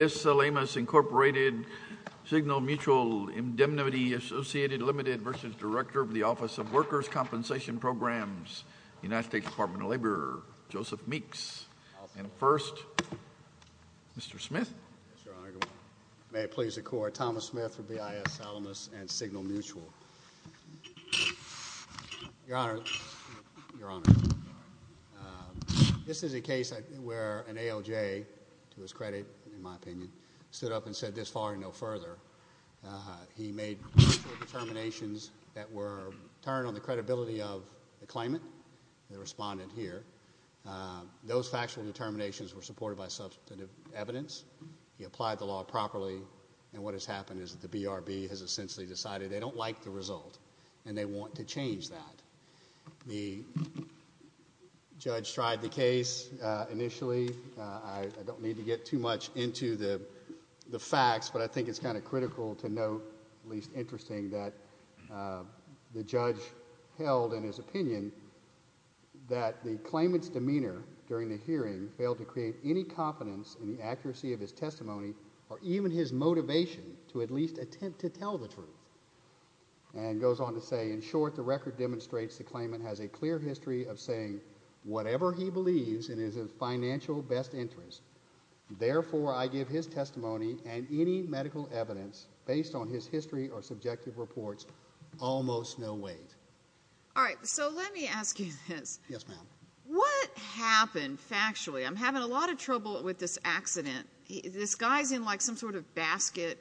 BIS Salamis, Inc., Signal Mutual, Indemnity Associated, Ltd. v. Director of the Office of Workers' Compensation Programs, United States Department of Labor, Joseph Meeks. And first, Mr. Smith. May it please the Court, Thomas Smith for BIS Salamis and Signal Mutual. Your Honor, this is a case where an AOJ, to his credit in my opinion, stood up and said this following no further, he made factual determinations that were turned on the credibility of the claimant, the respondent here. Those factual determinations were supported by substantive evidence. He applied the law properly and what has happened is that the BRB has essentially decided they don't like the result and they want to change that. The judge tried the case initially, I don't need to get too much into the facts, but I think it's kind of critical to note, at least interesting, that the judge held in his opinion that the claimant's demeanor during the hearing failed to create any confidence in the accuracy of his testimony or even his motivation to at least attempt to tell the truth. And goes on to say, in short, the record demonstrates the claimant has a clear history of saying whatever he believes and is of financial best interest. Therefore, I give his testimony and any medical evidence based on his history or subjective reports almost no weight. All right. So let me ask you this. Yes, ma'am. What happened factually? I'm having a lot of trouble with this accident. This guy's in like some sort of basket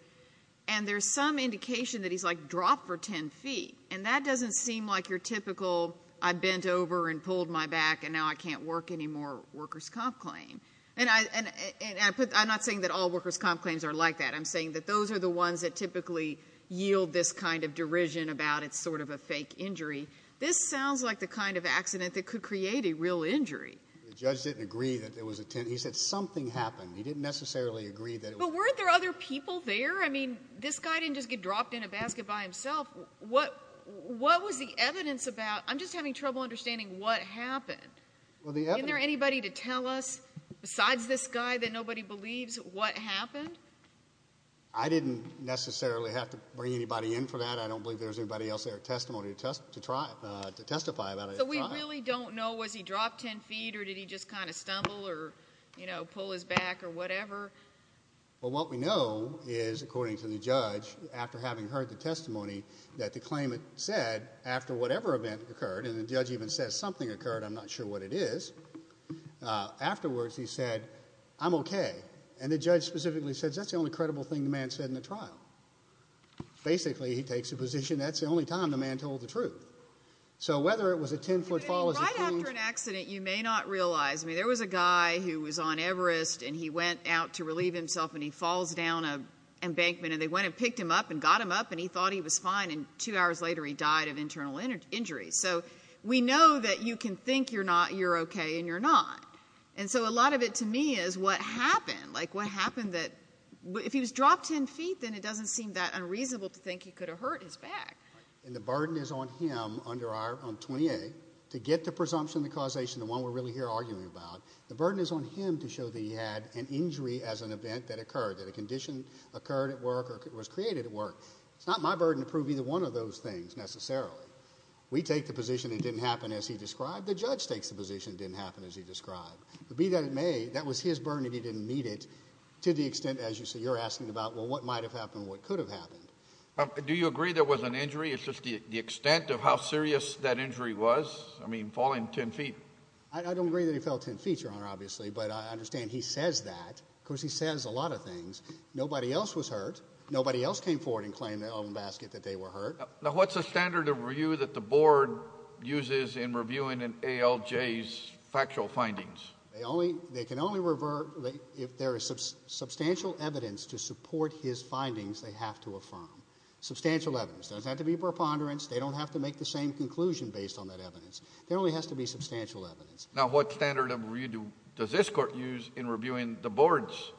and there's some indication that he's like dropped for 10 feet and that doesn't seem like your typical I bent over and pulled my back and now I can't work anymore workers' comp claim. And I'm not saying that all workers' comp claims are like that. I'm saying that those are the ones that typically yield this kind of derision about it's sort of a fake injury. This sounds like the kind of accident that could create a real injury. The judge didn't agree that there was a 10 feet. He said something happened. He didn't necessarily agree that it was a 10 feet. But weren't there other people there? I mean, this guy didn't just get dropped in a basket by himself. What was the evidence about? I'm just having trouble understanding what happened. Well, the evidence... Isn't there anybody to tell us, besides this guy that nobody believes, what happened? I didn't necessarily have to bring anybody in for that. I don't believe there was anybody else there at testimony to testify about it at the time. So we really don't know, was he dropped 10 feet or did he just kind of stumble or, you know, pull his back or whatever? Well, what we know is, according to the judge, after having heard the testimony that the claimant said, after whatever event occurred, and the judge even says something occurred, I'm not sure what it is, afterwards he said, I'm okay. And the judge specifically says that's the only credible thing the man said in the trial. Basically he takes the position that's the only time the man told the truth. So whether it was a 10 foot fall is a huge... I mean, right after an accident, you may not realize, I mean, there was a guy who was on Everest and he went out to relieve himself and he falls down an embankment and they went and picked him up and got him up and he thought he was fine and two hours later he died of internal injuries. So we know that you can think you're not, you're okay, and you're not. And so a lot of it to me is what happened, like what happened that... If he was dropped 10 feet, then it doesn't seem that unreasonable to think he could have hurt his back. And the burden is on him under our 28 to get the presumption, the causation, the one we're really here arguing about, the burden is on him to show that he had an injury as an event that occurred, that a condition occurred at work or was created at work. It's not my burden to prove either one of those things necessarily. We take the position it didn't happen as he described, the judge takes the position it didn't happen as he described. But be that it may, that was his burden and he didn't meet it to the extent, as you say, you're asking about, well, what might have happened, what could have happened. Do you agree there was an injury? It's just the extent of how serious that injury was? I mean, falling 10 feet. I don't agree that he fell 10 feet, Your Honor, obviously, but I understand he says that. Of course, he says a lot of things. Nobody else was hurt. Nobody else came forward and claimed in the open basket that they were hurt. Now, what's the standard of review that the board uses in reviewing an ALJ's factual findings? They can only revert, if there is substantial evidence to support his findings, they have to affirm. Substantial evidence. It doesn't have to be preponderance, they don't have to make the same conclusion based on that evidence. There only has to be substantial evidence. Now, what standard of review does this court use in reviewing the board's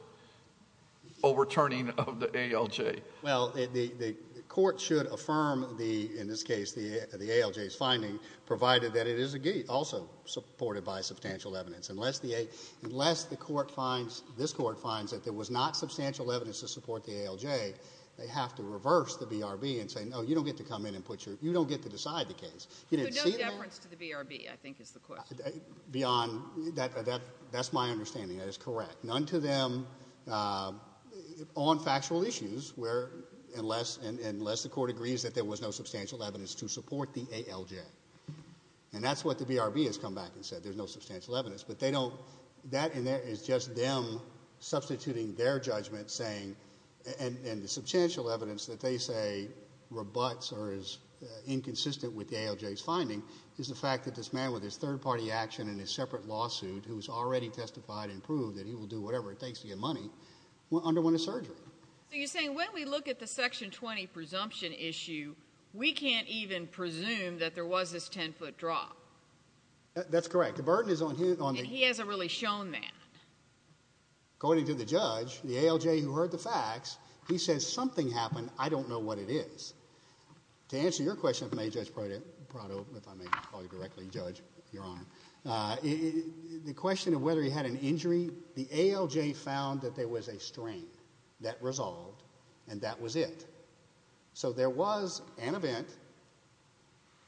overturning of the ALJ? Well, the court should affirm, in this case, the ALJ's finding, provided that it is also supported by substantial evidence. Unless the court finds, this court finds, that there was not substantial evidence to have to reverse the BRB and say, no, you don't get to come in and put your, you don't get to decide the case. You didn't see that? So no deference to the BRB, I think, is the question. That's my understanding. That is correct. None to them, on factual issues, where, unless the court agrees that there was no substantial evidence to support the ALJ. And that's what the BRB has come back and said, there's no substantial evidence, but they don't, that in there is just them substituting their judgment, saying, and the substantial evidence that they say rebuts or is inconsistent with the ALJ's finding is the fact that this man, with his third-party action and his separate lawsuit, who has already testified and proved that he will do whatever it takes to get money, underwent a surgery. So you're saying, when we look at the Section 20 presumption issue, we can't even presume that there was this 10-foot drop? That's correct. The burden is on him. He hasn't really shown that. According to the judge, the ALJ who heard the facts, he says, something happened. I don't know what it is. To answer your question, if I may, Judge Prado, if I may call you directly, Judge, Your Honor, the question of whether he had an injury, the ALJ found that there was a strain that resolved, and that was it. So there was an event,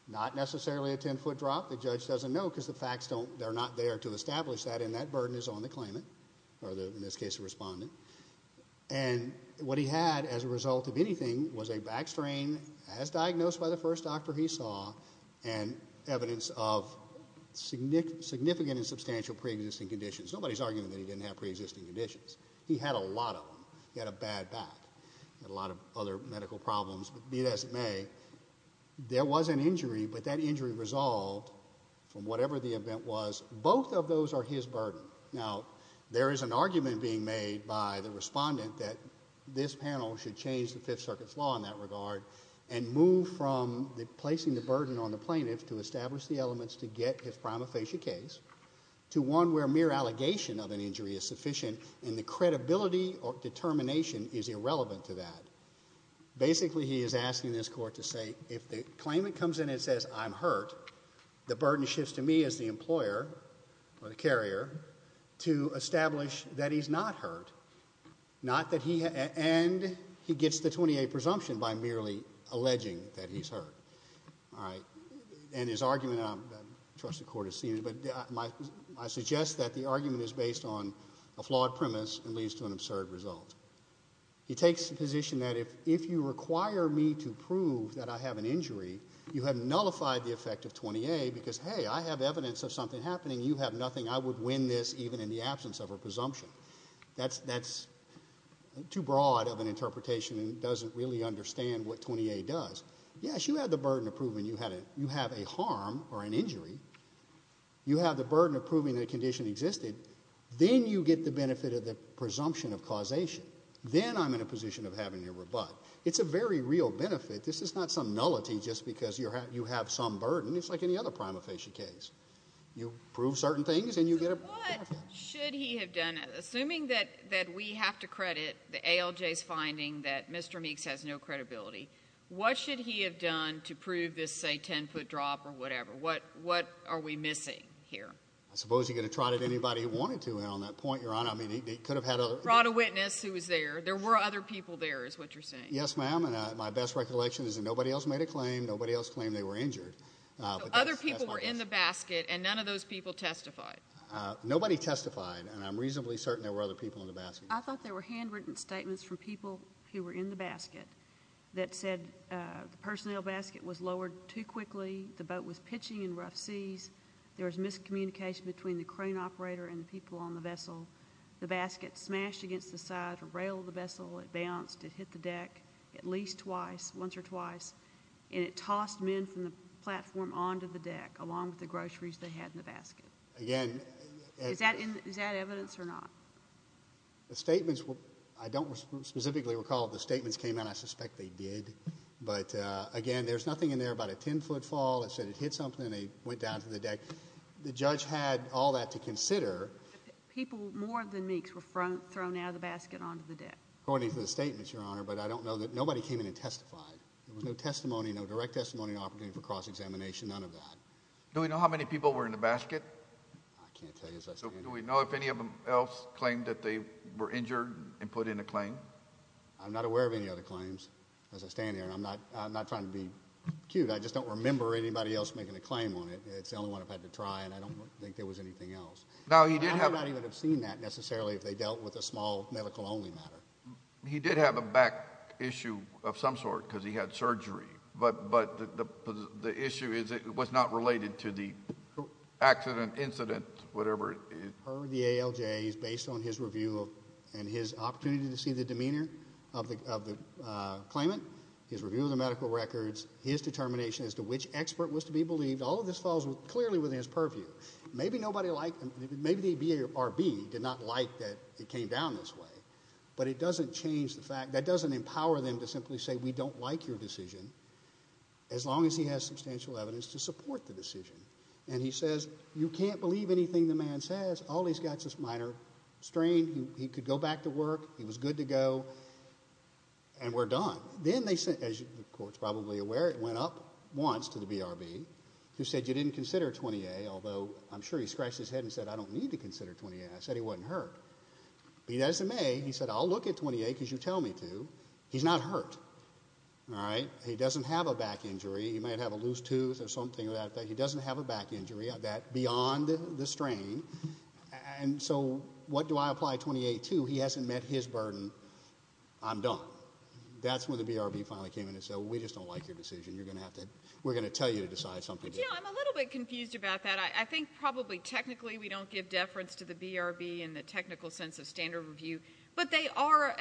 not necessarily a 10-foot drop. The judge doesn't know because the facts don't, they're not there to establish that, and that was the claimant, or in this case, the respondent. And what he had, as a result of anything, was a back strain, as diagnosed by the first doctor he saw, and evidence of significant and substantial pre-existing conditions. Nobody's arguing that he didn't have pre-existing conditions. He had a lot of them. He had a bad back. He had a lot of other medical problems, but be that as it may, there was an injury, but that injury resolved from whatever the event was. Both of those are his burden. Now, there is an argument being made by the respondent that this panel should change the Fifth Circuit's law in that regard, and move from placing the burden on the plaintiff to establish the elements to get his prima facie case, to one where mere allegation of an injury is sufficient, and the credibility or determination is irrelevant to that. Basically he is asking this court to say, if the claimant comes in and says, I'm hurt, the burden shifts to me as the employer, or the carrier, to establish that he's not hurt, not that he, and he gets the 28 presumption by merely alleging that he's hurt, all right? And his argument, I trust the court has seen it, but I suggest that the argument is based on a flawed premise and leads to an absurd result. He takes the position that if you require me to prove that I have an injury, you have nullified the effect of 28 because, hey, I have evidence of something happening. You have nothing. I would win this even in the absence of a presumption. That's too broad of an interpretation and doesn't really understand what 28 does. Yes, you have the burden of proving you have a harm or an injury. You have the burden of proving that a condition existed. Then you get the benefit of the presumption of causation. Then I'm in a position of having a rebut. It's a very real benefit. This is not some nullity just because you have some burden. It's like any other prima facie case. You prove certain things and you get a benefit. So what should he have done? Assuming that we have to credit the ALJ's finding that Mr. Meeks has no credibility, what should he have done to prove this, say, ten foot drop or whatever? What are we missing here? I suppose he could have trotted anybody he wanted to on that point, Your Honor. I mean, he could have had a- Brought a witness who was there. There were other people there is what you're saying. Yes, ma'am, and my best recollection is that nobody else made a claim. Nobody else claimed they were injured. Other people were in the basket, and none of those people testified. Nobody testified, and I'm reasonably certain there were other people in the basket. I thought there were handwritten statements from people who were in the basket that said the personnel basket was lowered too quickly. The boat was pitching in rough seas. There was miscommunication between the crane operator and the people on the vessel. The basket smashed against the side of the rail of the vessel. It bounced. It hit the deck at least twice, once or twice, and it tossed men from the platform onto the deck along with the groceries they had in the basket. Again- Is that evidence or not? The statements, I don't specifically recall if the statements came out. I suspect they did, but again, there's nothing in there about a ten-foot fall that said it hit something and they went down to the deck. The judge had all that to consider. People more than Meeks were thrown out of the basket onto the deck. According to the statements, Your Honor, but I don't know that nobody came in and testified. There was no testimony, no direct testimony, no opportunity for cross-examination, none of that. Do we know how many people were in the basket? I can't tell you as I stand here. Do we know if any of them else claimed that they were injured and put in a claim? I'm not aware of any other claims as I stand here, and I'm not trying to be cute. I just don't remember anybody else making a claim on it. It's the only one I've had to try, and I don't think there was anything else. Now, you did have- He did have a back issue of some sort because he had surgery, but the issue was not related to the accident, incident, whatever it is. Per the ALJ, based on his review and his opportunity to see the demeanor of the claimant, his review of the medical records, his determination as to which expert was to be believed, all of this falls clearly within his purview. Maybe nobody liked, maybe the BRB did not like that it came down this way, but it doesn't change the fact, that doesn't empower them to simply say, we don't like your decision, as long as he has substantial evidence to support the decision. And he says, you can't believe anything the man says. All he's got is this minor strain. He could go back to work. He was good to go, and we're done. Then they sent, as the court's probably aware, it went up once to the BRB, who said, you didn't consider 20A, although I'm sure he scratched his head and said, I don't need to consider 20A, I said he wasn't hurt. But he doesn't may, he said, I'll look at 20A because you tell me to. He's not hurt, all right? He doesn't have a back injury. He might have a loose tooth or something like that. He doesn't have a back injury beyond the strain, and so what do I apply 20A to? He hasn't met his burden. I'm done. That's when the BRB finally came in and said, we just don't like your decision. You're going to have to, we're going to tell you to decide something. But you know, I'm a little bit confused about that. I think probably technically we don't give deference to the BRB in the technical sense of standard review. But they are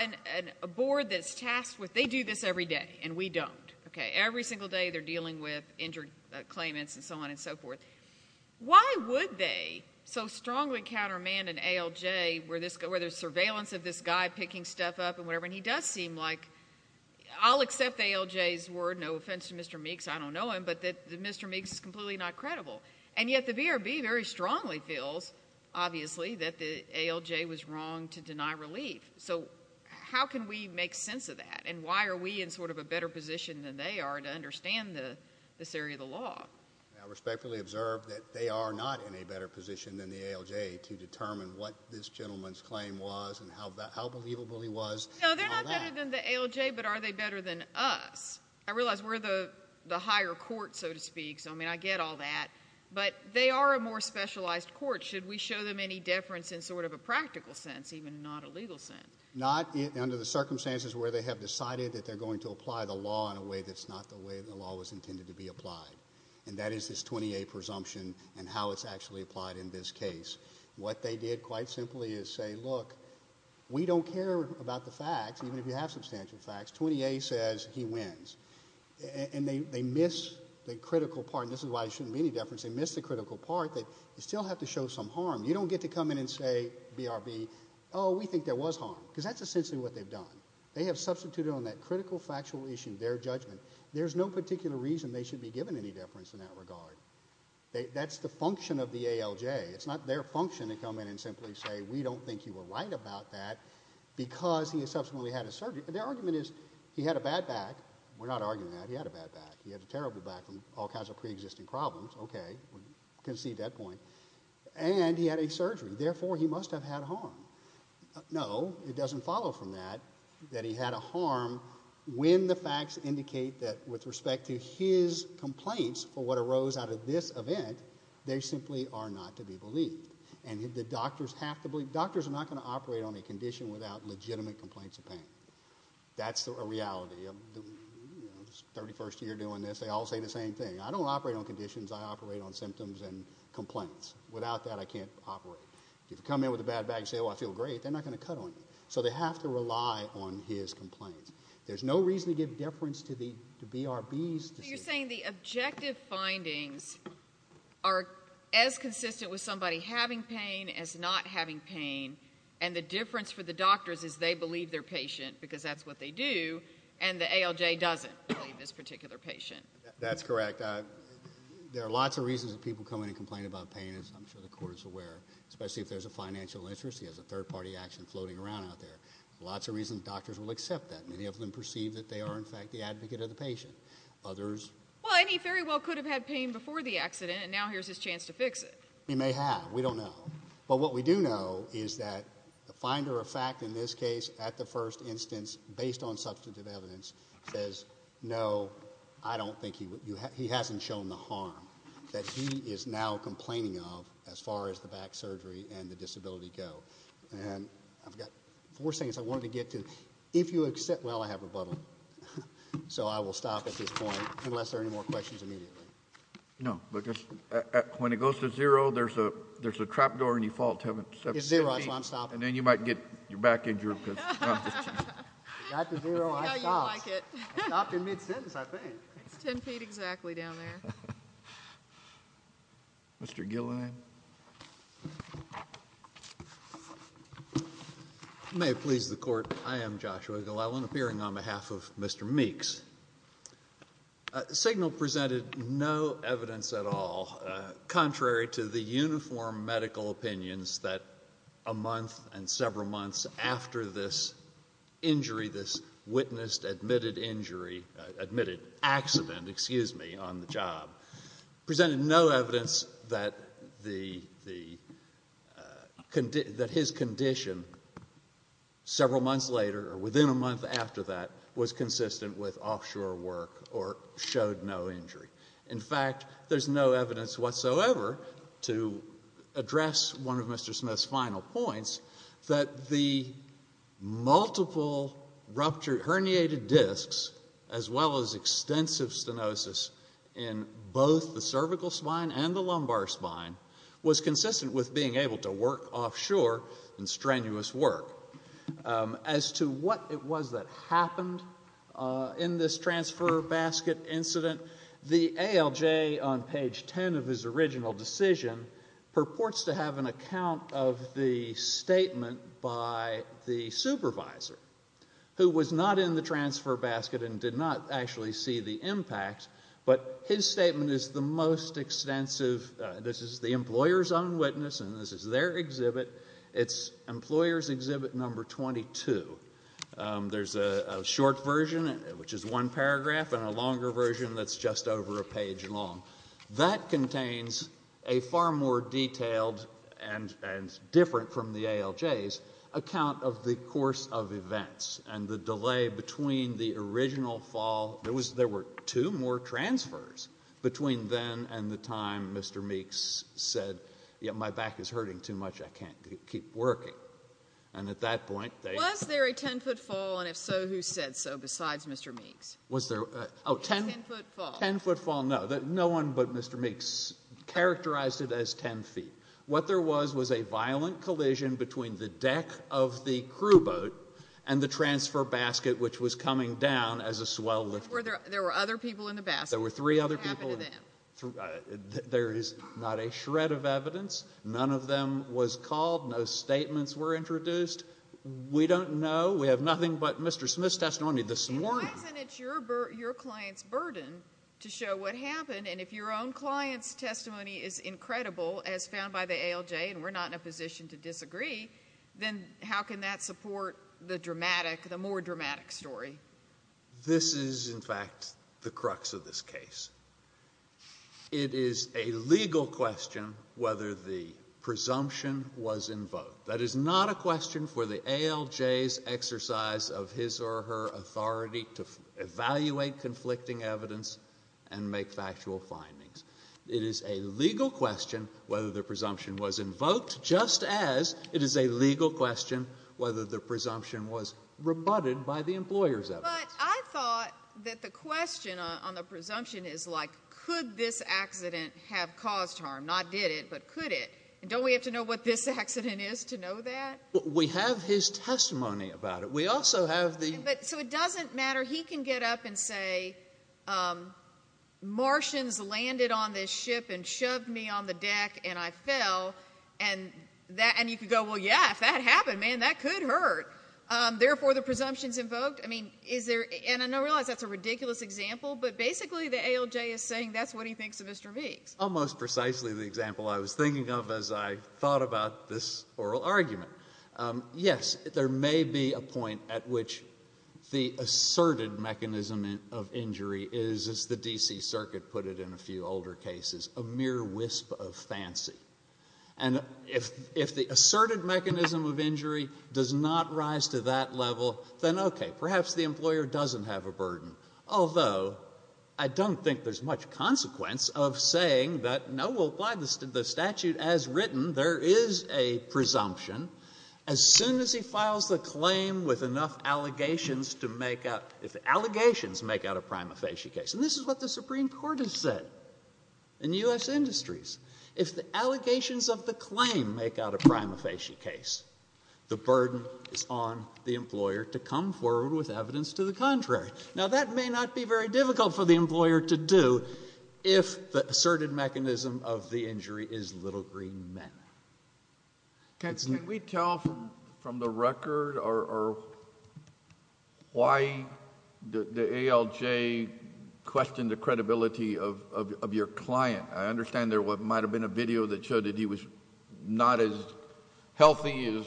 a board that's tasked with, they do this every day, and we don't, okay? Every single day they're dealing with injured claimants and so on and so forth. Why would they so strongly countermand an ALJ where there's surveillance of this guy picking stuff up and whatever? And he does seem like, I'll accept ALJ's word, no offense to Mr. Meeks, I don't know him, but that Mr. Meeks is completely not credible. And yet the BRB very strongly feels, obviously, that the ALJ was wrong to deny relief. So how can we make sense of that? And why are we in sort of a better position than they are to understand this area of the law? I respectfully observe that they are not in a better position than the ALJ to determine what this gentleman's claim was and how believable he was. No, they're not better than the ALJ, but are they better than us? I realize we're the higher court, so to speak, so I mean, I get all that. But they are a more specialized court. Should we show them any deference in sort of a practical sense, even not a legal sense? Not under the circumstances where they have decided that they're going to apply the law in a way that's not the way the law was intended to be applied. And that is this 28 presumption and how it's actually applied in this case. What they did, quite simply, is say, look, we don't care about the facts, even if you have substantial facts, 28 says he wins. And they miss the critical part, and this is why there shouldn't be any deference. They miss the critical part that you still have to show some harm. You don't get to come in and say, BRB, we think there was harm, because that's essentially what they've done. They have substituted on that critical factual issue their judgment. There's no particular reason they should be given any deference in that regard. That's the function of the ALJ. It's not their function to come in and simply say, we don't think you were right about that, because he subsequently had a surgery. Their argument is, he had a bad back. We're not arguing that, he had a bad back. He had a terrible back from all kinds of pre-existing problems. Okay, we can see that point. And he had a surgery, therefore he must have had harm. No, it doesn't follow from that, that he had a harm when the facts indicate that with respect to his complaints for what arose out of this event, they simply are not to be believed. And the doctors have to believe, doctors are not going to operate on a condition without legitimate complaints of pain. That's a reality of the 31st year doing this, they all say the same thing. I don't operate on conditions, I operate on symptoms and complaints. Without that, I can't operate. If you come in with a bad back and say, well, I feel great, they're not going to cut on you. So they have to rely on his complaints. There's no reason to give deference to the BRB's decision. But you're saying the objective findings are as consistent with somebody having pain as not having pain. And the difference for the doctors is they believe their patient, because that's what they do. And the ALJ doesn't believe this particular patient. That's correct, there are lots of reasons that people come in and complain about pain, as I'm sure the court is aware. Especially if there's a financial interest, he has a third party action floating around out there. Lots of reasons doctors will accept that. Many of them perceive that they are in fact the advocate of the patient. Others- Well, and he very well could have had pain before the accident, and now here's his chance to fix it. He may have, we don't know. But what we do know is that the finder of fact in this case, at the first instance, based on substantive evidence, says no, I don't think he would, he hasn't shown the harm that he is now complaining of as far as the back surgery and the disability go. And I've got four things I wanted to get to. If you accept, well, I have a bubble, so I will stop at this point, unless there are any more questions immediately. No, but when it goes to zero, there's a trap door and you fall to seven feet. It's zero, that's why I'm stopping. And then you might get your back injured because. It got to zero, I stopped. No, you like it. I stopped in mid-sentence, I think. It's ten feet exactly down there. Mr. Gillian. May it please the court, I am Joshua Gillian, appearing on behalf of Mr. Meeks. The signal presented no evidence at all, contrary to the uniform medical opinions, that a month and several months after this injury, this witnessed, admitted injury, admitted accident, excuse me, on the job. Presented no evidence that his condition several months later, or within a month after that, was consistent with offshore work or showed no injury. In fact, there's no evidence whatsoever to address one of Mr. Smith's final points, that the multiple ruptured herniated discs, as well as extensive stenosis in both the cervical spine and the lumbar spine, was consistent with being able to work offshore in strenuous work. As to what it was that happened in this transfer basket incident, the ALJ on page 10 of his statement by the supervisor, who was not in the transfer basket and did not actually see the impact, but his statement is the most extensive. This is the employer's own witness, and this is their exhibit. It's employer's exhibit number 22. There's a short version, which is one paragraph, and a longer version that's just over a page long. That contains a far more detailed and different from the ALJ's account of the course of events, and the delay between the original fall. There were two more transfers between then and the time Mr. Meeks said, yeah, my back is hurting too much, I can't keep working. And at that point, they- Was there a 10-foot fall, and if so, who said so besides Mr. Meeks? Was there a- 10-foot fall. 10-foot fall? I don't know. No one but Mr. Meeks characterized it as 10 feet. What there was was a violent collision between the deck of the crew boat and the transfer basket, which was coming down as a swell lift. There were other people in the basket. There were three other people. What happened to them? There is not a shred of evidence. None of them was called. No statements were introduced. We don't know. We have nothing but Mr. Smith's testimony this morning. Why isn't it your client's burden to show what happened, and if your own client's testimony is incredible as found by the ALJ, and we're not in a position to disagree, then how can that support the dramatic, the more dramatic story? This is, in fact, the crux of this case. It is a legal question whether the presumption was in vogue. That is not a question for the ALJ's exercise of his or her authority to evaluate conflicting evidence and make factual findings. It is a legal question whether the presumption was invoked, just as it is a legal question whether the presumption was rebutted by the employer's evidence. But I thought that the question on the presumption is like, could this accident have caused harm? Not did it, but could it? And don't we have to know what this accident is to know that? We have his testimony about it. We also have the- But, so it doesn't matter, he can get up and say, Martians landed on this ship and shoved me on the deck and I fell, and you could go, well, yeah, if that happened, man, that could hurt. Therefore, the presumption's invoked? I mean, is there, and I realize that's a ridiculous example, but basically the ALJ is saying that's what he thinks of Mr. Meeks. Almost precisely the example I was thinking of as I thought about this oral argument. Yes, there may be a point at which the asserted mechanism of injury is, as the D.C. Circuit put it in a few older cases, a mere wisp of fancy. And if the asserted mechanism of injury does not rise to that level, then okay, perhaps the employer doesn't have a burden, although I don't think there's much consequence of saying that, no, we'll apply the statute as written, there is a presumption. As soon as he files the claim with enough allegations to make out, if the allegations make out a prima facie case, and this is what the Supreme Court has said in U.S. industries, if the allegations of the claim make out a prima facie case, the burden is on the employer to come forward with evidence to the contrary. Now that may not be very difficult for the employer to do if the asserted mechanism of the injury is little green men. Can we tell from the record or why the ALJ questioned the credibility of your client? I understand there might have been a video that showed that he was not as healthy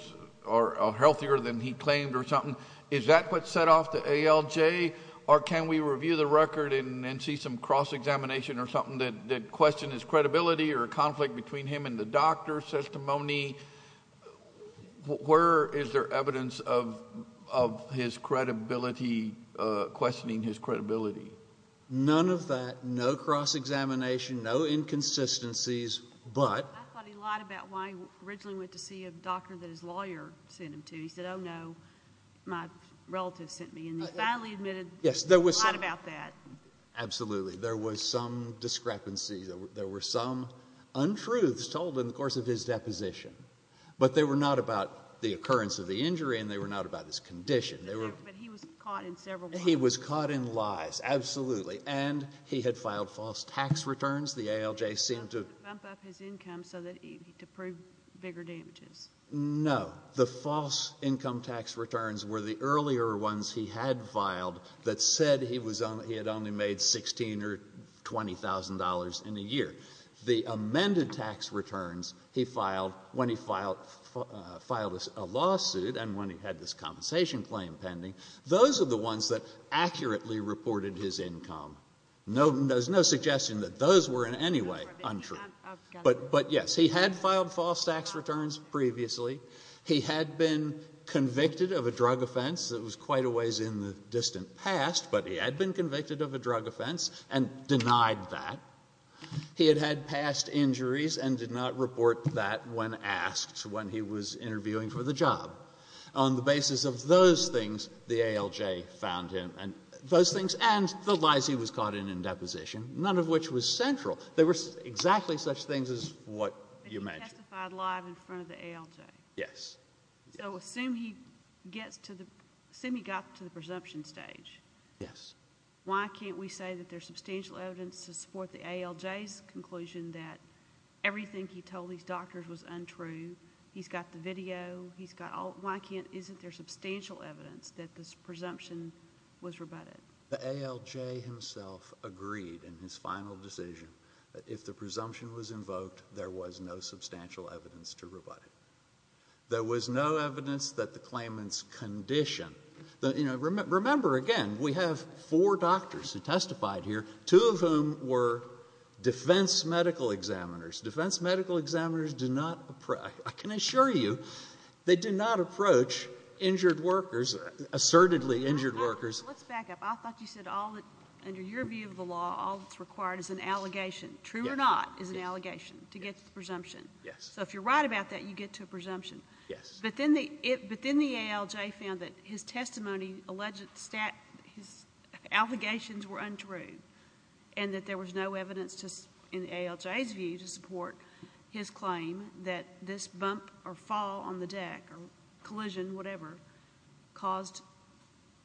or healthier than he claimed or something. Is that what set off the ALJ, or can we review the record and see some cross-examination or something that questioned his credibility or a conflict between him and the doctor's testimony? Where is there evidence of his credibility, questioning his credibility? None of that. No cross-examination, no inconsistencies, but... I thought he lied about why he originally went to see a doctor that his lawyer sent him to. He said, oh no, my relative sent me, and he finally admitted to lying about that. Absolutely. There was some discrepancy. There were some untruths told in the course of his deposition, but they were not about the occurrence of the injury and they were not about his condition. But he was caught in several lies. He was caught in lies, absolutely, and he had filed false tax returns. The ALJ seemed to... Bump up his income to prove bigger damages. No. The false income tax returns were the earlier ones he had filed that said he had only made $16,000 or $20,000 in a year. The amended tax returns he filed when he filed a lawsuit and when he had this compensation claim pending, those are the ones that accurately reported his income. There's no suggestion that those were in any way untrue. But yes, he had filed false tax returns previously. He had been convicted of a drug offense that was quite a ways in the distant past, but he had been convicted of a drug offense and denied that. He had had past injuries and did not report that when asked when he was interviewing for the job. On the basis of those things, the ALJ found him. And those things and the lies he was caught in in deposition, none of which was central. There were exactly such things as what you mentioned. So he testified live in front of the ALJ? Yes. So assume he got to the presumption stage. Yes. Why can't we say that there's substantial evidence to support the ALJ's conclusion that everything he told these doctors was untrue? He's got the video. He's got all... why can't... isn't there substantial evidence that this presumption was rebutted? The ALJ himself agreed in his final decision that if the presumption was invoked, there was no substantial evidence to rebut it. There was no evidence that the claimant's condition... you know, remember again, we have four doctors who testified here, two of whom were defense medical examiners. Defense medical examiners do not approach... I can assure you, they do not approach injured workers, assertedly injured workers... Let's back up. I thought you said all the... under your view of the law, all that's required is an allegation. Yes. True or not is an allegation to get to the presumption. Yes. So if you're right about that, you get to a presumption. Yes. But then the ALJ found that his testimony alleged... his allegations were untrue, and that there was no evidence in the ALJ's view to support his claim that this bump or fall on the deck or collision, whatever, caused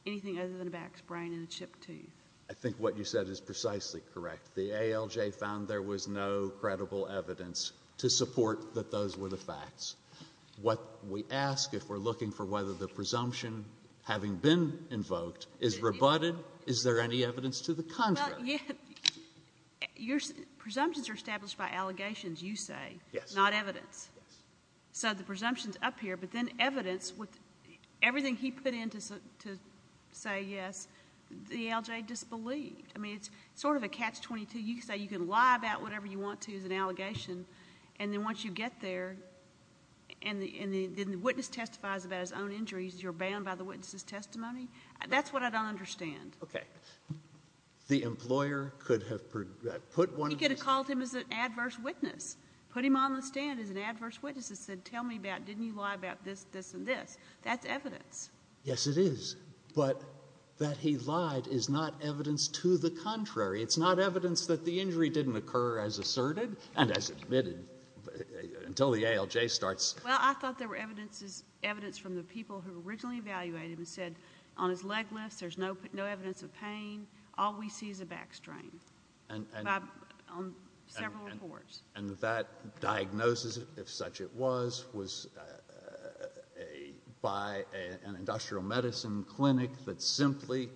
anything other than a back sprain and a chipped tooth. I think what you said is precisely correct. The ALJ found there was no credible evidence to support that those were the facts. What we ask, if we're looking for whether the presumption, having been invoked, is rebutted, is there any evidence to the contrary? Well, yes. Your presumptions are established by allegations, you say. Yes. Not evidence. Yes. So the presumption's up here, but then evidence with everything he put in to say yes, the ALJ disbelieved. I mean, it's sort of a catch-22. You say you can lie about whatever you want to as an allegation, and then once you get there and the witness testifies about his own injuries, you're banned by the witness's testimony? That's what I don't understand. Okay. The employer could have put one... He could have called him as an adverse witness, put him on the stand as an adverse witness and said, tell me about... didn't you lie about this, this, and this? That's evidence. Yes, it is. But that he lied is not evidence to the contrary. It's not evidence that the injury didn't occur as asserted and as admitted until the ALJ starts... Well, I thought there were evidence from the people who originally evaluated him and said on his leg lifts, there's no evidence of pain. All we see is a back strain on several reports. And that diagnosis, if such it was, was by an industrial medicine clinic that simply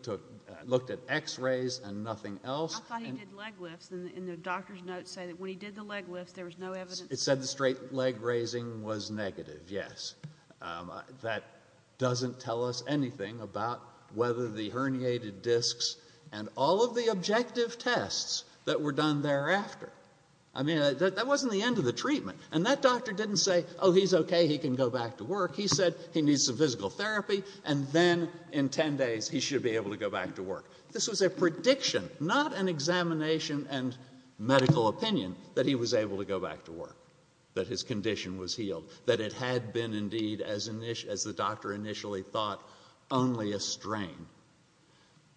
looked at x-rays and nothing else. I thought he did leg lifts, and the doctor's notes say that when he did the leg lifts, there was no evidence... It said the straight leg raising was negative, yes. That doesn't tell us anything about whether the herniated discs and all of the objective tests that were done thereafter. I mean, that wasn't the end of the treatment. And that doctor didn't say, oh, he's okay, he can go back to work. He said he needs some physical therapy, and then in 10 days he should be able to go back to work. This was a prediction, not an examination and medical opinion, that he was able to go back to work, that his condition was healed, that it had been indeed, as the doctor initially thought, only a strain.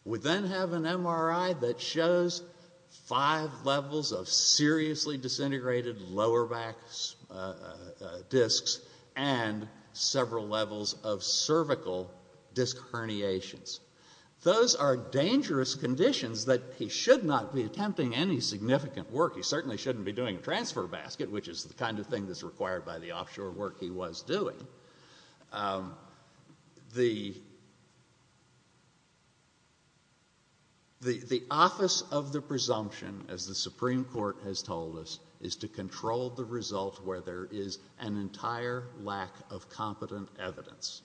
We then have an MRI that shows five levels of seriously disintegrated lower back discs and several levels of cervical disc herniations. Those are dangerous conditions that he should not be attempting any significant work. He certainly shouldn't be doing a transfer basket, which is the kind of thing that's required by the offshore work he was doing. The office of the presumption, as the Supreme Court has told us, is to control the result where there is an entire lack of competent evidence.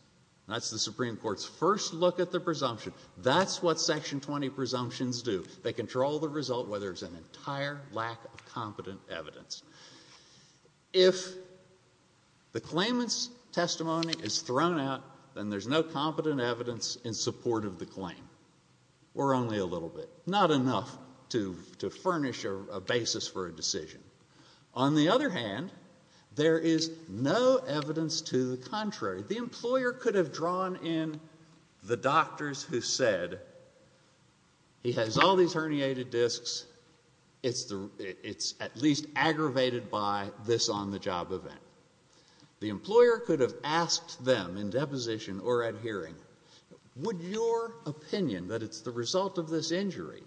That's the Supreme Court's first look at the presumption. That's what Section 20 presumptions do. They control the result where there's an entire lack of competent evidence. If the claimant's testimony is thrown out, then there's no competent evidence in support of the claim, or only a little bit. Not enough to furnish a basis for a decision. On the other hand, there is no evidence to the contrary. The employer could have drawn in the doctors who said, he has all these herniated discs, it's at least aggravated by this on-the-job event. The employer could have asked them in deposition or at hearing, would your opinion that it's the result of this injury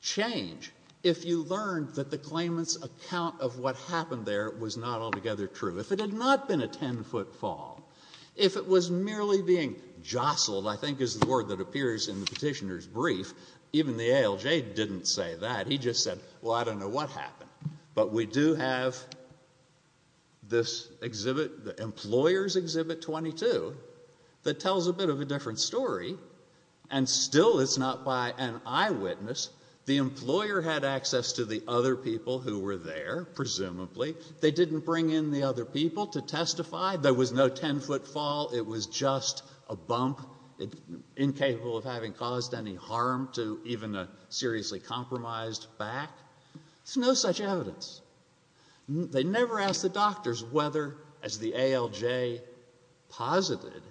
change if you learned that the claimant's account of what happened there was not altogether true? If it had not been a 10-foot fall, if it was merely being jostled, even the ALJ didn't say that. He just said, well, I don't know what happened. But we do have this exhibit, the employer's Exhibit 22, that tells a bit of a different story. And still it's not by an eyewitness. The employer had access to the other people who were there, presumably. They didn't bring in the other people to testify. There was no 10-foot fall. It was just a bump, incapable of having caused any harm to even a seriously compromised back. There's no such evidence. They never asked the doctors whether, as the ALJ posited,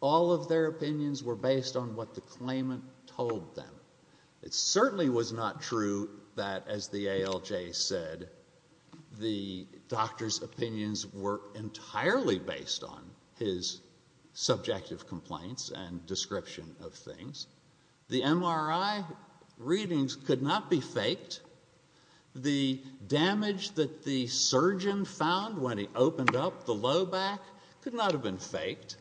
all of their opinions were based on what the claimant told them. It certainly was not true that, as the ALJ said, the doctor's opinions were entirely based on his subjective complaints and description of things. The MRI readings could not be faked. The damage that the surgeon found when he opened up the low back could not have been faked.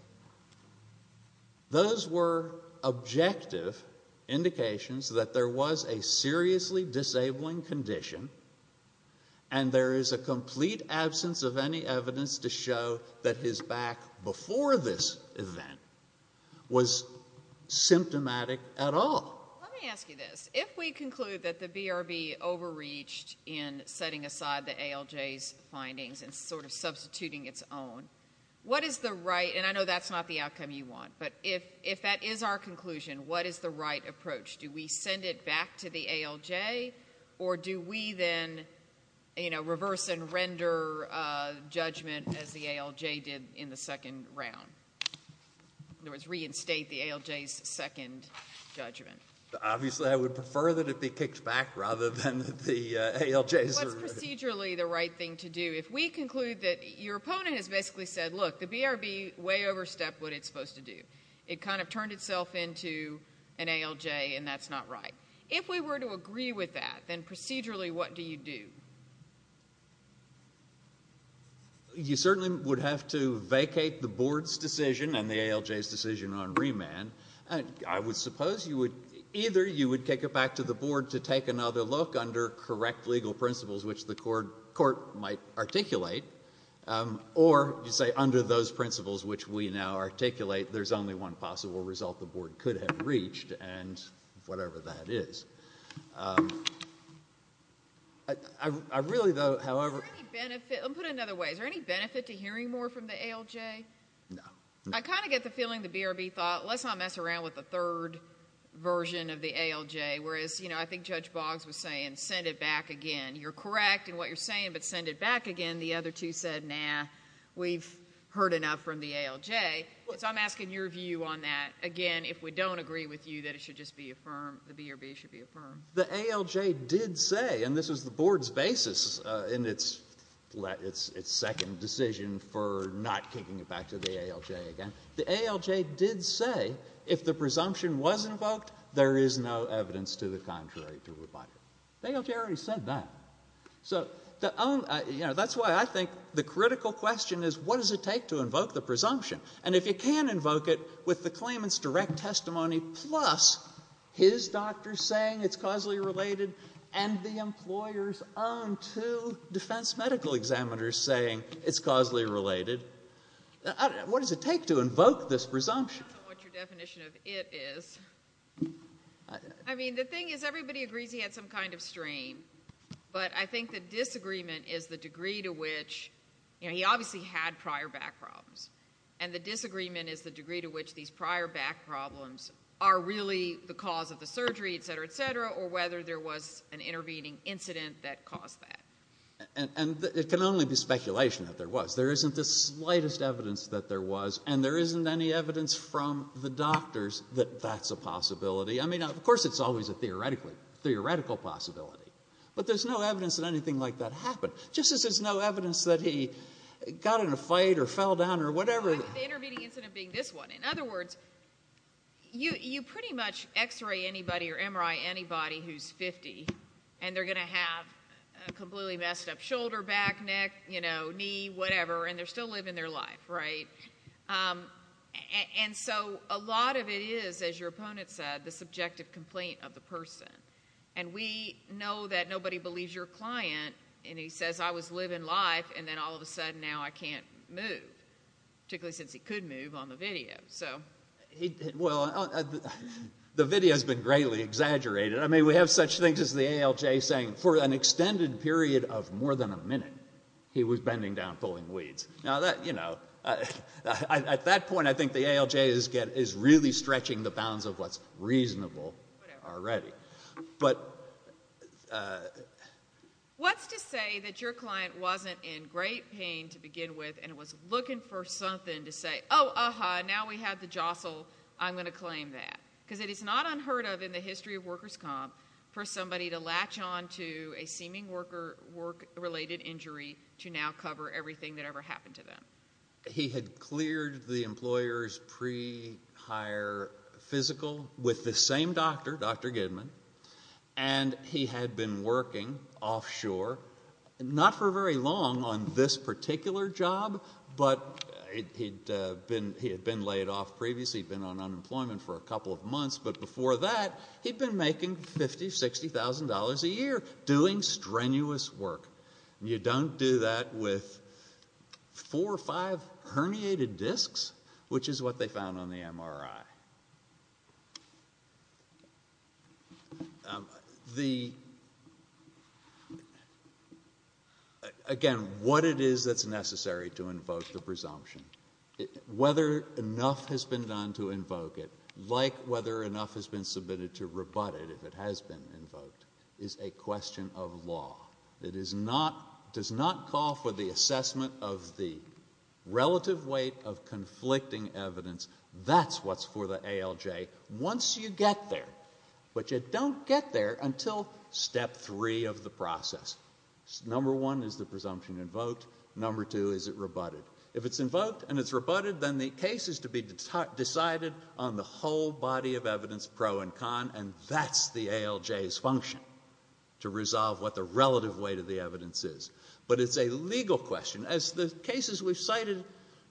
Those were objective indications that there was a seriously disabling condition and there is a complete absence of any evidence to show that his back before this event was symptomatic at all. Let me ask you this. If we conclude that the BRB overreached in setting aside the ALJ's findings and sort of substituting its own, what is the right and I know that's not the outcome you want, but if that is our conclusion, what is the right approach? Do we send it back to the ALJ or do we then, you know, reverse and render judgment as the ALJ did in the second round? In other words, reinstate the ALJ's second judgment? Obviously, I would prefer that it be kicked back rather than the ALJ's. What's procedurally the right thing to do? If we conclude that your opponent has basically said, look, the BRB way overstepped what it's supposed to do. It kind of turned itself into an ALJ and that's not right. If we were to agree with that, then procedurally what do you do? You certainly would have to vacate the board's decision and the ALJ's decision on remand. I would suppose either you would kick it back to the board to take another look under correct legal principles which the court might articulate or you say under those principles which we now articulate, there's only one possible result the board could have reached and whatever that is. I really though, however... Let me put it another way. Is there any benefit to hearing more from the ALJ? No. I kind of get the feeling the BRB thought, let's not mess around with the third version of the ALJ. Whereas, you know, I think Judge Boggs was saying send it back again. You're correct in what you're saying but send it back again. The other two said, nah, we've heard enough from the ALJ. So I'm asking your view on that. Again, if we don't agree with you that it should just be affirmed, the BRB should be affirmed. The ALJ did say, and this was the board's basis in its second decision for not kicking it back to the ALJ again. The ALJ did say if the presumption was invoked, there is no evidence to the contrary to rebut it. The ALJ already said that. So that's why I think the critical question is what does it take to invoke the presumption? And if you can invoke it with the claimant's direct testimony plus his doctor saying it's causally related and the employer's own two defence medical examiners saying it's causally related, what does it take to invoke this presumption? I don't know what your definition of it is. I mean, the thing is everybody agrees he had some kind of strain. But I think the disagreement is the degree to which, you know, he obviously had prior back problems. And the disagreement is the degree to which these prior back problems are really the cause of the surgery, et cetera, et cetera, or whether there was an intervening incident that caused that. And it can only be speculation that there was. There isn't the slightest evidence that there was. And there isn't any evidence from the doctors that that's a possibility. I mean, of course it's always a theoretical possibility. But there's no evidence that anything like that happened. Just as there's no evidence that he got in a fight or fell down or whatever. The intervening incident being this one. In other words, you pretty much X-ray anybody or MRI anybody who's 50 and they're going to have a completely messed up shoulder, back, neck, knee, whatever, and they're still living their life, right? And so a lot of it is, as your opponent said, the subjective complaint of the person. And we know that nobody believes your client and he says, I was living life and then all of a sudden now I can't move. Particularly since he could move on the video. Well, the video's been greatly exaggerated. I mean, we have such things as the ALJ saying for an extended period of more than a minute he was bending down pulling weeds. At that point, I think the ALJ is really stretching the bounds of what's reasonable already. But... Your client wasn't in great pain to begin with and was looking for something to say, oh, uh-huh, now we have the jostle, I'm going to claim that. Because it is not unheard of in the history of workers' comp for somebody to latch on to a seeming work-related injury to now cover everything that ever happened to them. He had cleared the employer's pre-hire physical with the same doctor, Dr. Gidman, and he had been working offshore. Not for very long on this particular job, but he had been laid off previously, been on unemployment for a couple of months, but before that he'd been making $50,000, $60,000 a year doing strenuous work. You don't do that with 4 or 5 herniated discs, which is what they found on the MRI. The... Again, what it is that's necessary to invoke the presumption, whether enough has been done to invoke it, like whether enough has been submitted to rebut it if it has been invoked, is a question of law. It does not call for the assessment of the relative weight of conflicting evidence. That's what's for the ALJ once you get there. But you don't get there until step 3 of the process. Number 1, is the presumption invoked? Number 2, is it rebutted? If it's invoked and it's rebutted, then the case is to be decided on the whole body of evidence, pro and con, and that's the ALJ's function to resolve what the relative weight of the evidence is. But it's a legal question. As the cases we've cited,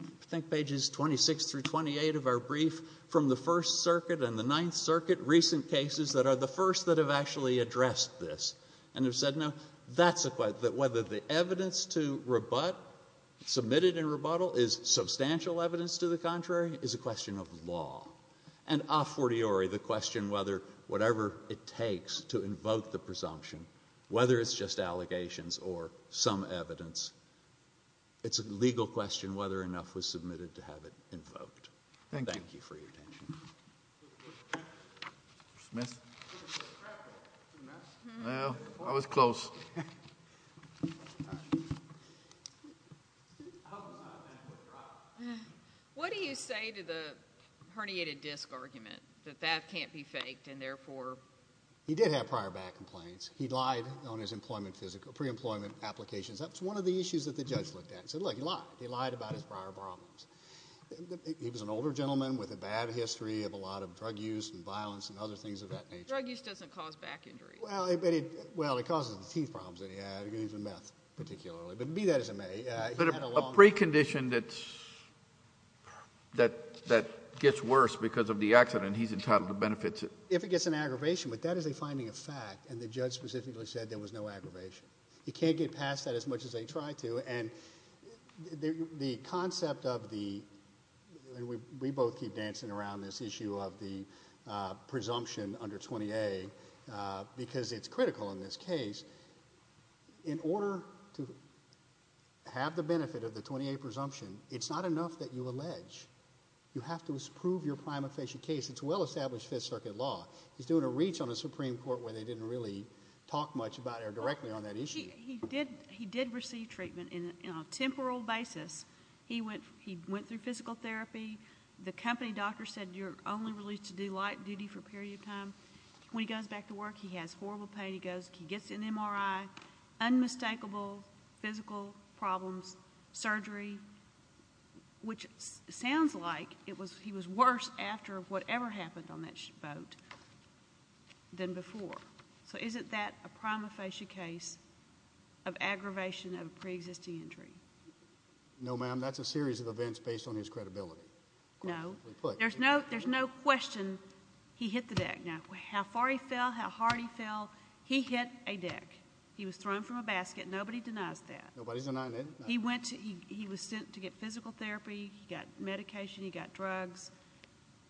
I think pages 26 through 28 of our brief from the First Circuit and the Ninth Circuit, recent cases that are the first that have actually addressed this, and have said, no, that's a question, that whether the evidence to rebut, submitted and rebuttal, is substantial evidence to the contrary, is a question of law. And a fortiori, the question whether whatever it takes to invoke the presumption, whether it's just allegations or some evidence, it's a legal question whether enough was submitted to have it invoked. Thank you for your attention. Mr. Smith? I was close. What do you say to the herniated disk argument that that can't be faked and therefore... He did have prior bad complaints. He lied on his pre-employment applications. That's one of the issues that the judge looked at. He said, look, he lied. He lied about his prior problems. He was an older gentleman with a bad history of a lot of drug use and violence and other things of that nature. Drug use doesn't cause back injuries. Well, it causes the teeth problems that he had. But be that as it may... But a precondition that gets worse because of the accident, he's entitled to benefits. If it gets an aggravation, but that is a finding of fact, and the judge specifically said there was no aggravation. He can't get past that as much as they try to. And the concept of the... And we both keep dancing around this issue of the presumption under 20A because it's critical in this case. In order to have the benefit of the 20A presumption, it's not enough that you allege. You have to prove your prima facie case. It's well-established Fifth Circuit law. He's doing a reach on the Supreme Court where they didn't really talk much about it or directly on that issue. He did receive treatment on a temporal basis. He went through physical therapy. The company doctor said, you're only released to do light duty for a period of time. When he goes back to work, he has horrible pain. He gets an MRI, unmistakable physical problems, surgery, which sounds like he was worse after whatever happened on that boat than before. So isn't that a prima facie case of aggravation of a pre-existing injury? No, ma'am. That's a series of events based on his credibility. There's no question he hit the deck. How far he fell, how hard he fell, he hit a deck. He was thrown from a basket. Nobody denies that. He was sent to get physical therapy. He got medication. He got drugs.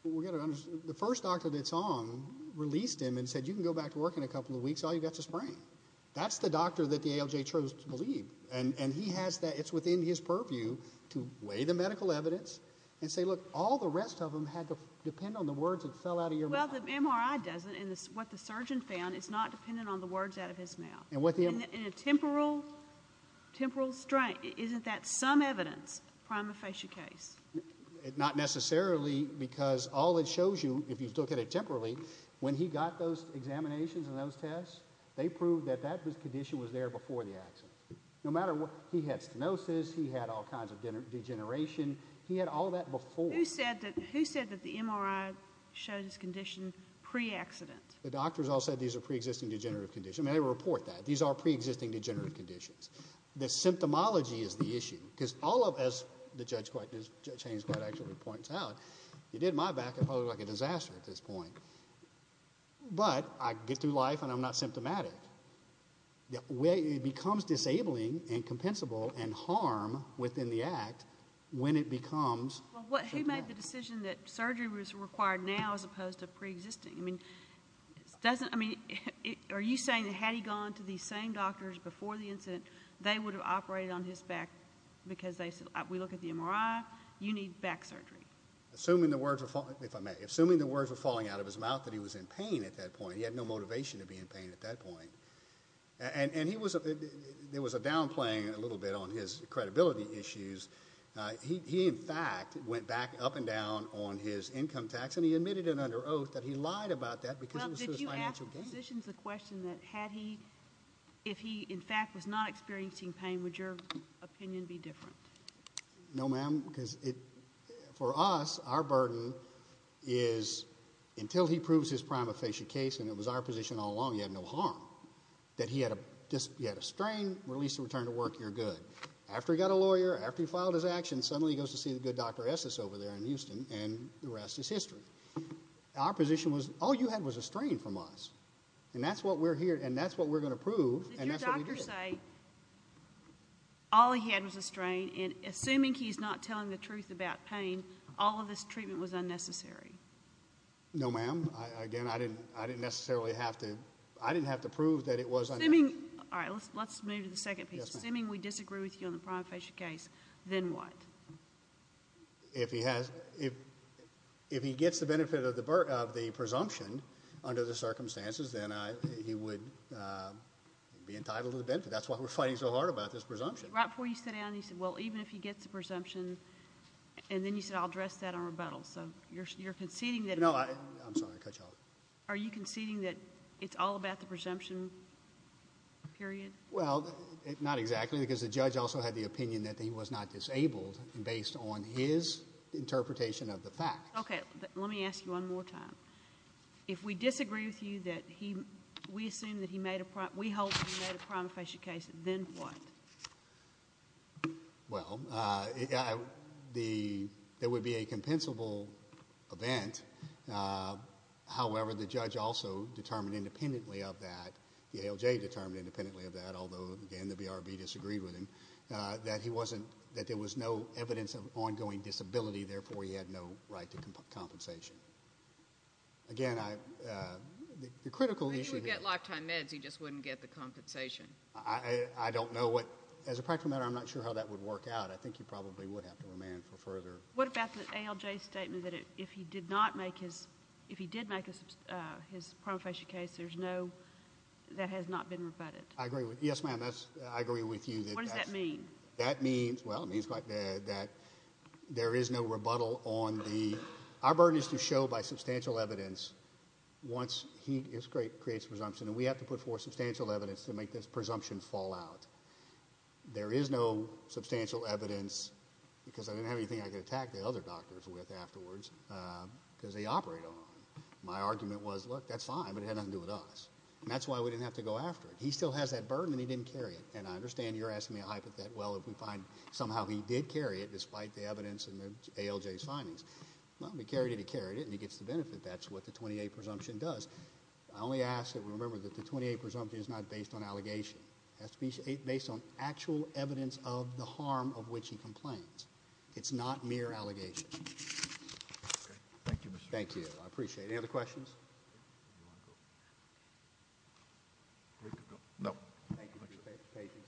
The first doctor that's on released him and said, you can go back to work in a couple of weeks. All you've got is a sprain. That's the doctor that the ALJ chose to believe. It's within his purview to weigh the medical evidence and say, look, all the rest of them had to depend on the words that fell out of your mouth. Well, the MRI doesn't. What the surgeon found is not dependent on the words out of his mouth. In a temporal strain, isn't that some evidence? Prima facie case. Not necessarily, because all it shows you if you look at it temporally, when he got those examinations and those tests, they proved that that condition was there before the accident. No matter what, he had stenosis. He had all kinds of degeneration. He had all that before. Who said that the MRI showed his condition pre-accident? The doctors all said these are pre-existing degenerative conditions. They report that. These are pre-existing degenerative conditions. The symptomology is the issue. Because all of us, as Judge Haynes quite actually points out, you did my back, it probably looked like a disaster at this point. But I get through life and I'm not symptomatic. It becomes disabling and compensable and harm within the act when it becomes symptomatic. Who made the decision that surgery was required now as opposed to pre-existing? I mean, are you saying that had he gone to these same doctors before the incident they would have operated on his back because we look at the MRI you need back surgery? Assuming the words were falling out of his mouth that he was in pain at that point. He had no motivation to be in pain at that point. There was a downplaying a little bit on his credibility issues. He, in fact, went back up and down on his income tax and he admitted it under oath that he lied about that because it was a financial gain. If he, in fact, was not experiencing pain would your opinion be different? No, ma'am. For us, our burden is until he proves his prima facie case and it was our position all along he had no harm that he had a strain released and returned to work, you're good. After he got a lawyer, after he filed his action suddenly he goes to see the good Dr. Estes over there in Houston and the rest is history. Our position was all you had was a strain from us and that's what we're here and that's what we're going to prove and that's what we did. Did your doctor say all he had was a strain and assuming he's not telling the truth about pain, all of this treatment was unnecessary? No, ma'am. Again, I didn't necessarily have to prove that it was unnecessary. Alright, let's move to the second piece. Assuming we disagree with you on the prima facie case, then what? If he has if he gets the benefit of the presumption under the circumstances, then he would be entitled to the benefit. That's why we're fighting so hard about this presumption. Right before you sat down, you said well even if he gets the presumption and then you said I'll address that on rebuttal so you're conceding that... No, I'm sorry I cut you off. Are you conceding that it's all about the presumption period? Well not exactly because the judge also had the opinion that he was not disabled based on his interpretation of the facts. Okay, let me ask you one more time. If we disagree with you that he we assume that he made a prima facie case, then what? Well there would be a compensable event however the judge also determined independently of that, the ALJ determined independently of that although again the BRB disagreed with him that there was no evidence of ongoing disability therefore he had no right to compensation. Again I the critical issue... If he would get lifetime meds he just wouldn't get the compensation. I don't know what as a practical matter I'm not sure how that would work out. I think he probably would have to remand for further... What about the ALJ's statement that if he did not make his if he did make his prima facie case there's no... that has not been rebutted. I agree with you. Yes ma'am that's I agree with you. What does that mean? That means well it means quite that there is no rebuttal on the... our burden is to show by substantial evidence once he creates presumption and we have to put forth substantial evidence to make this presumption fall out. There is no substantial evidence because I didn't have anything I could attack the other doctors with afterwards because they operate on them. My argument was look that's fine but it had nothing to do with us and that's why we didn't have to go after it. He still has that burden and he didn't carry it and I understand you're asking me a hypothet well if we find somehow he did carry it despite the evidence and the ALJ's findings well he carried it, he carried it and he gets the benefit. That's what the 28 presumption does. I only ask that we remember that the 28 presumption is not based on allegation it has to be based on actual evidence of the harm of which he complains. It's not mere allegation. Thank you. Thank you. I appreciate it. Any other questions? Any other questions?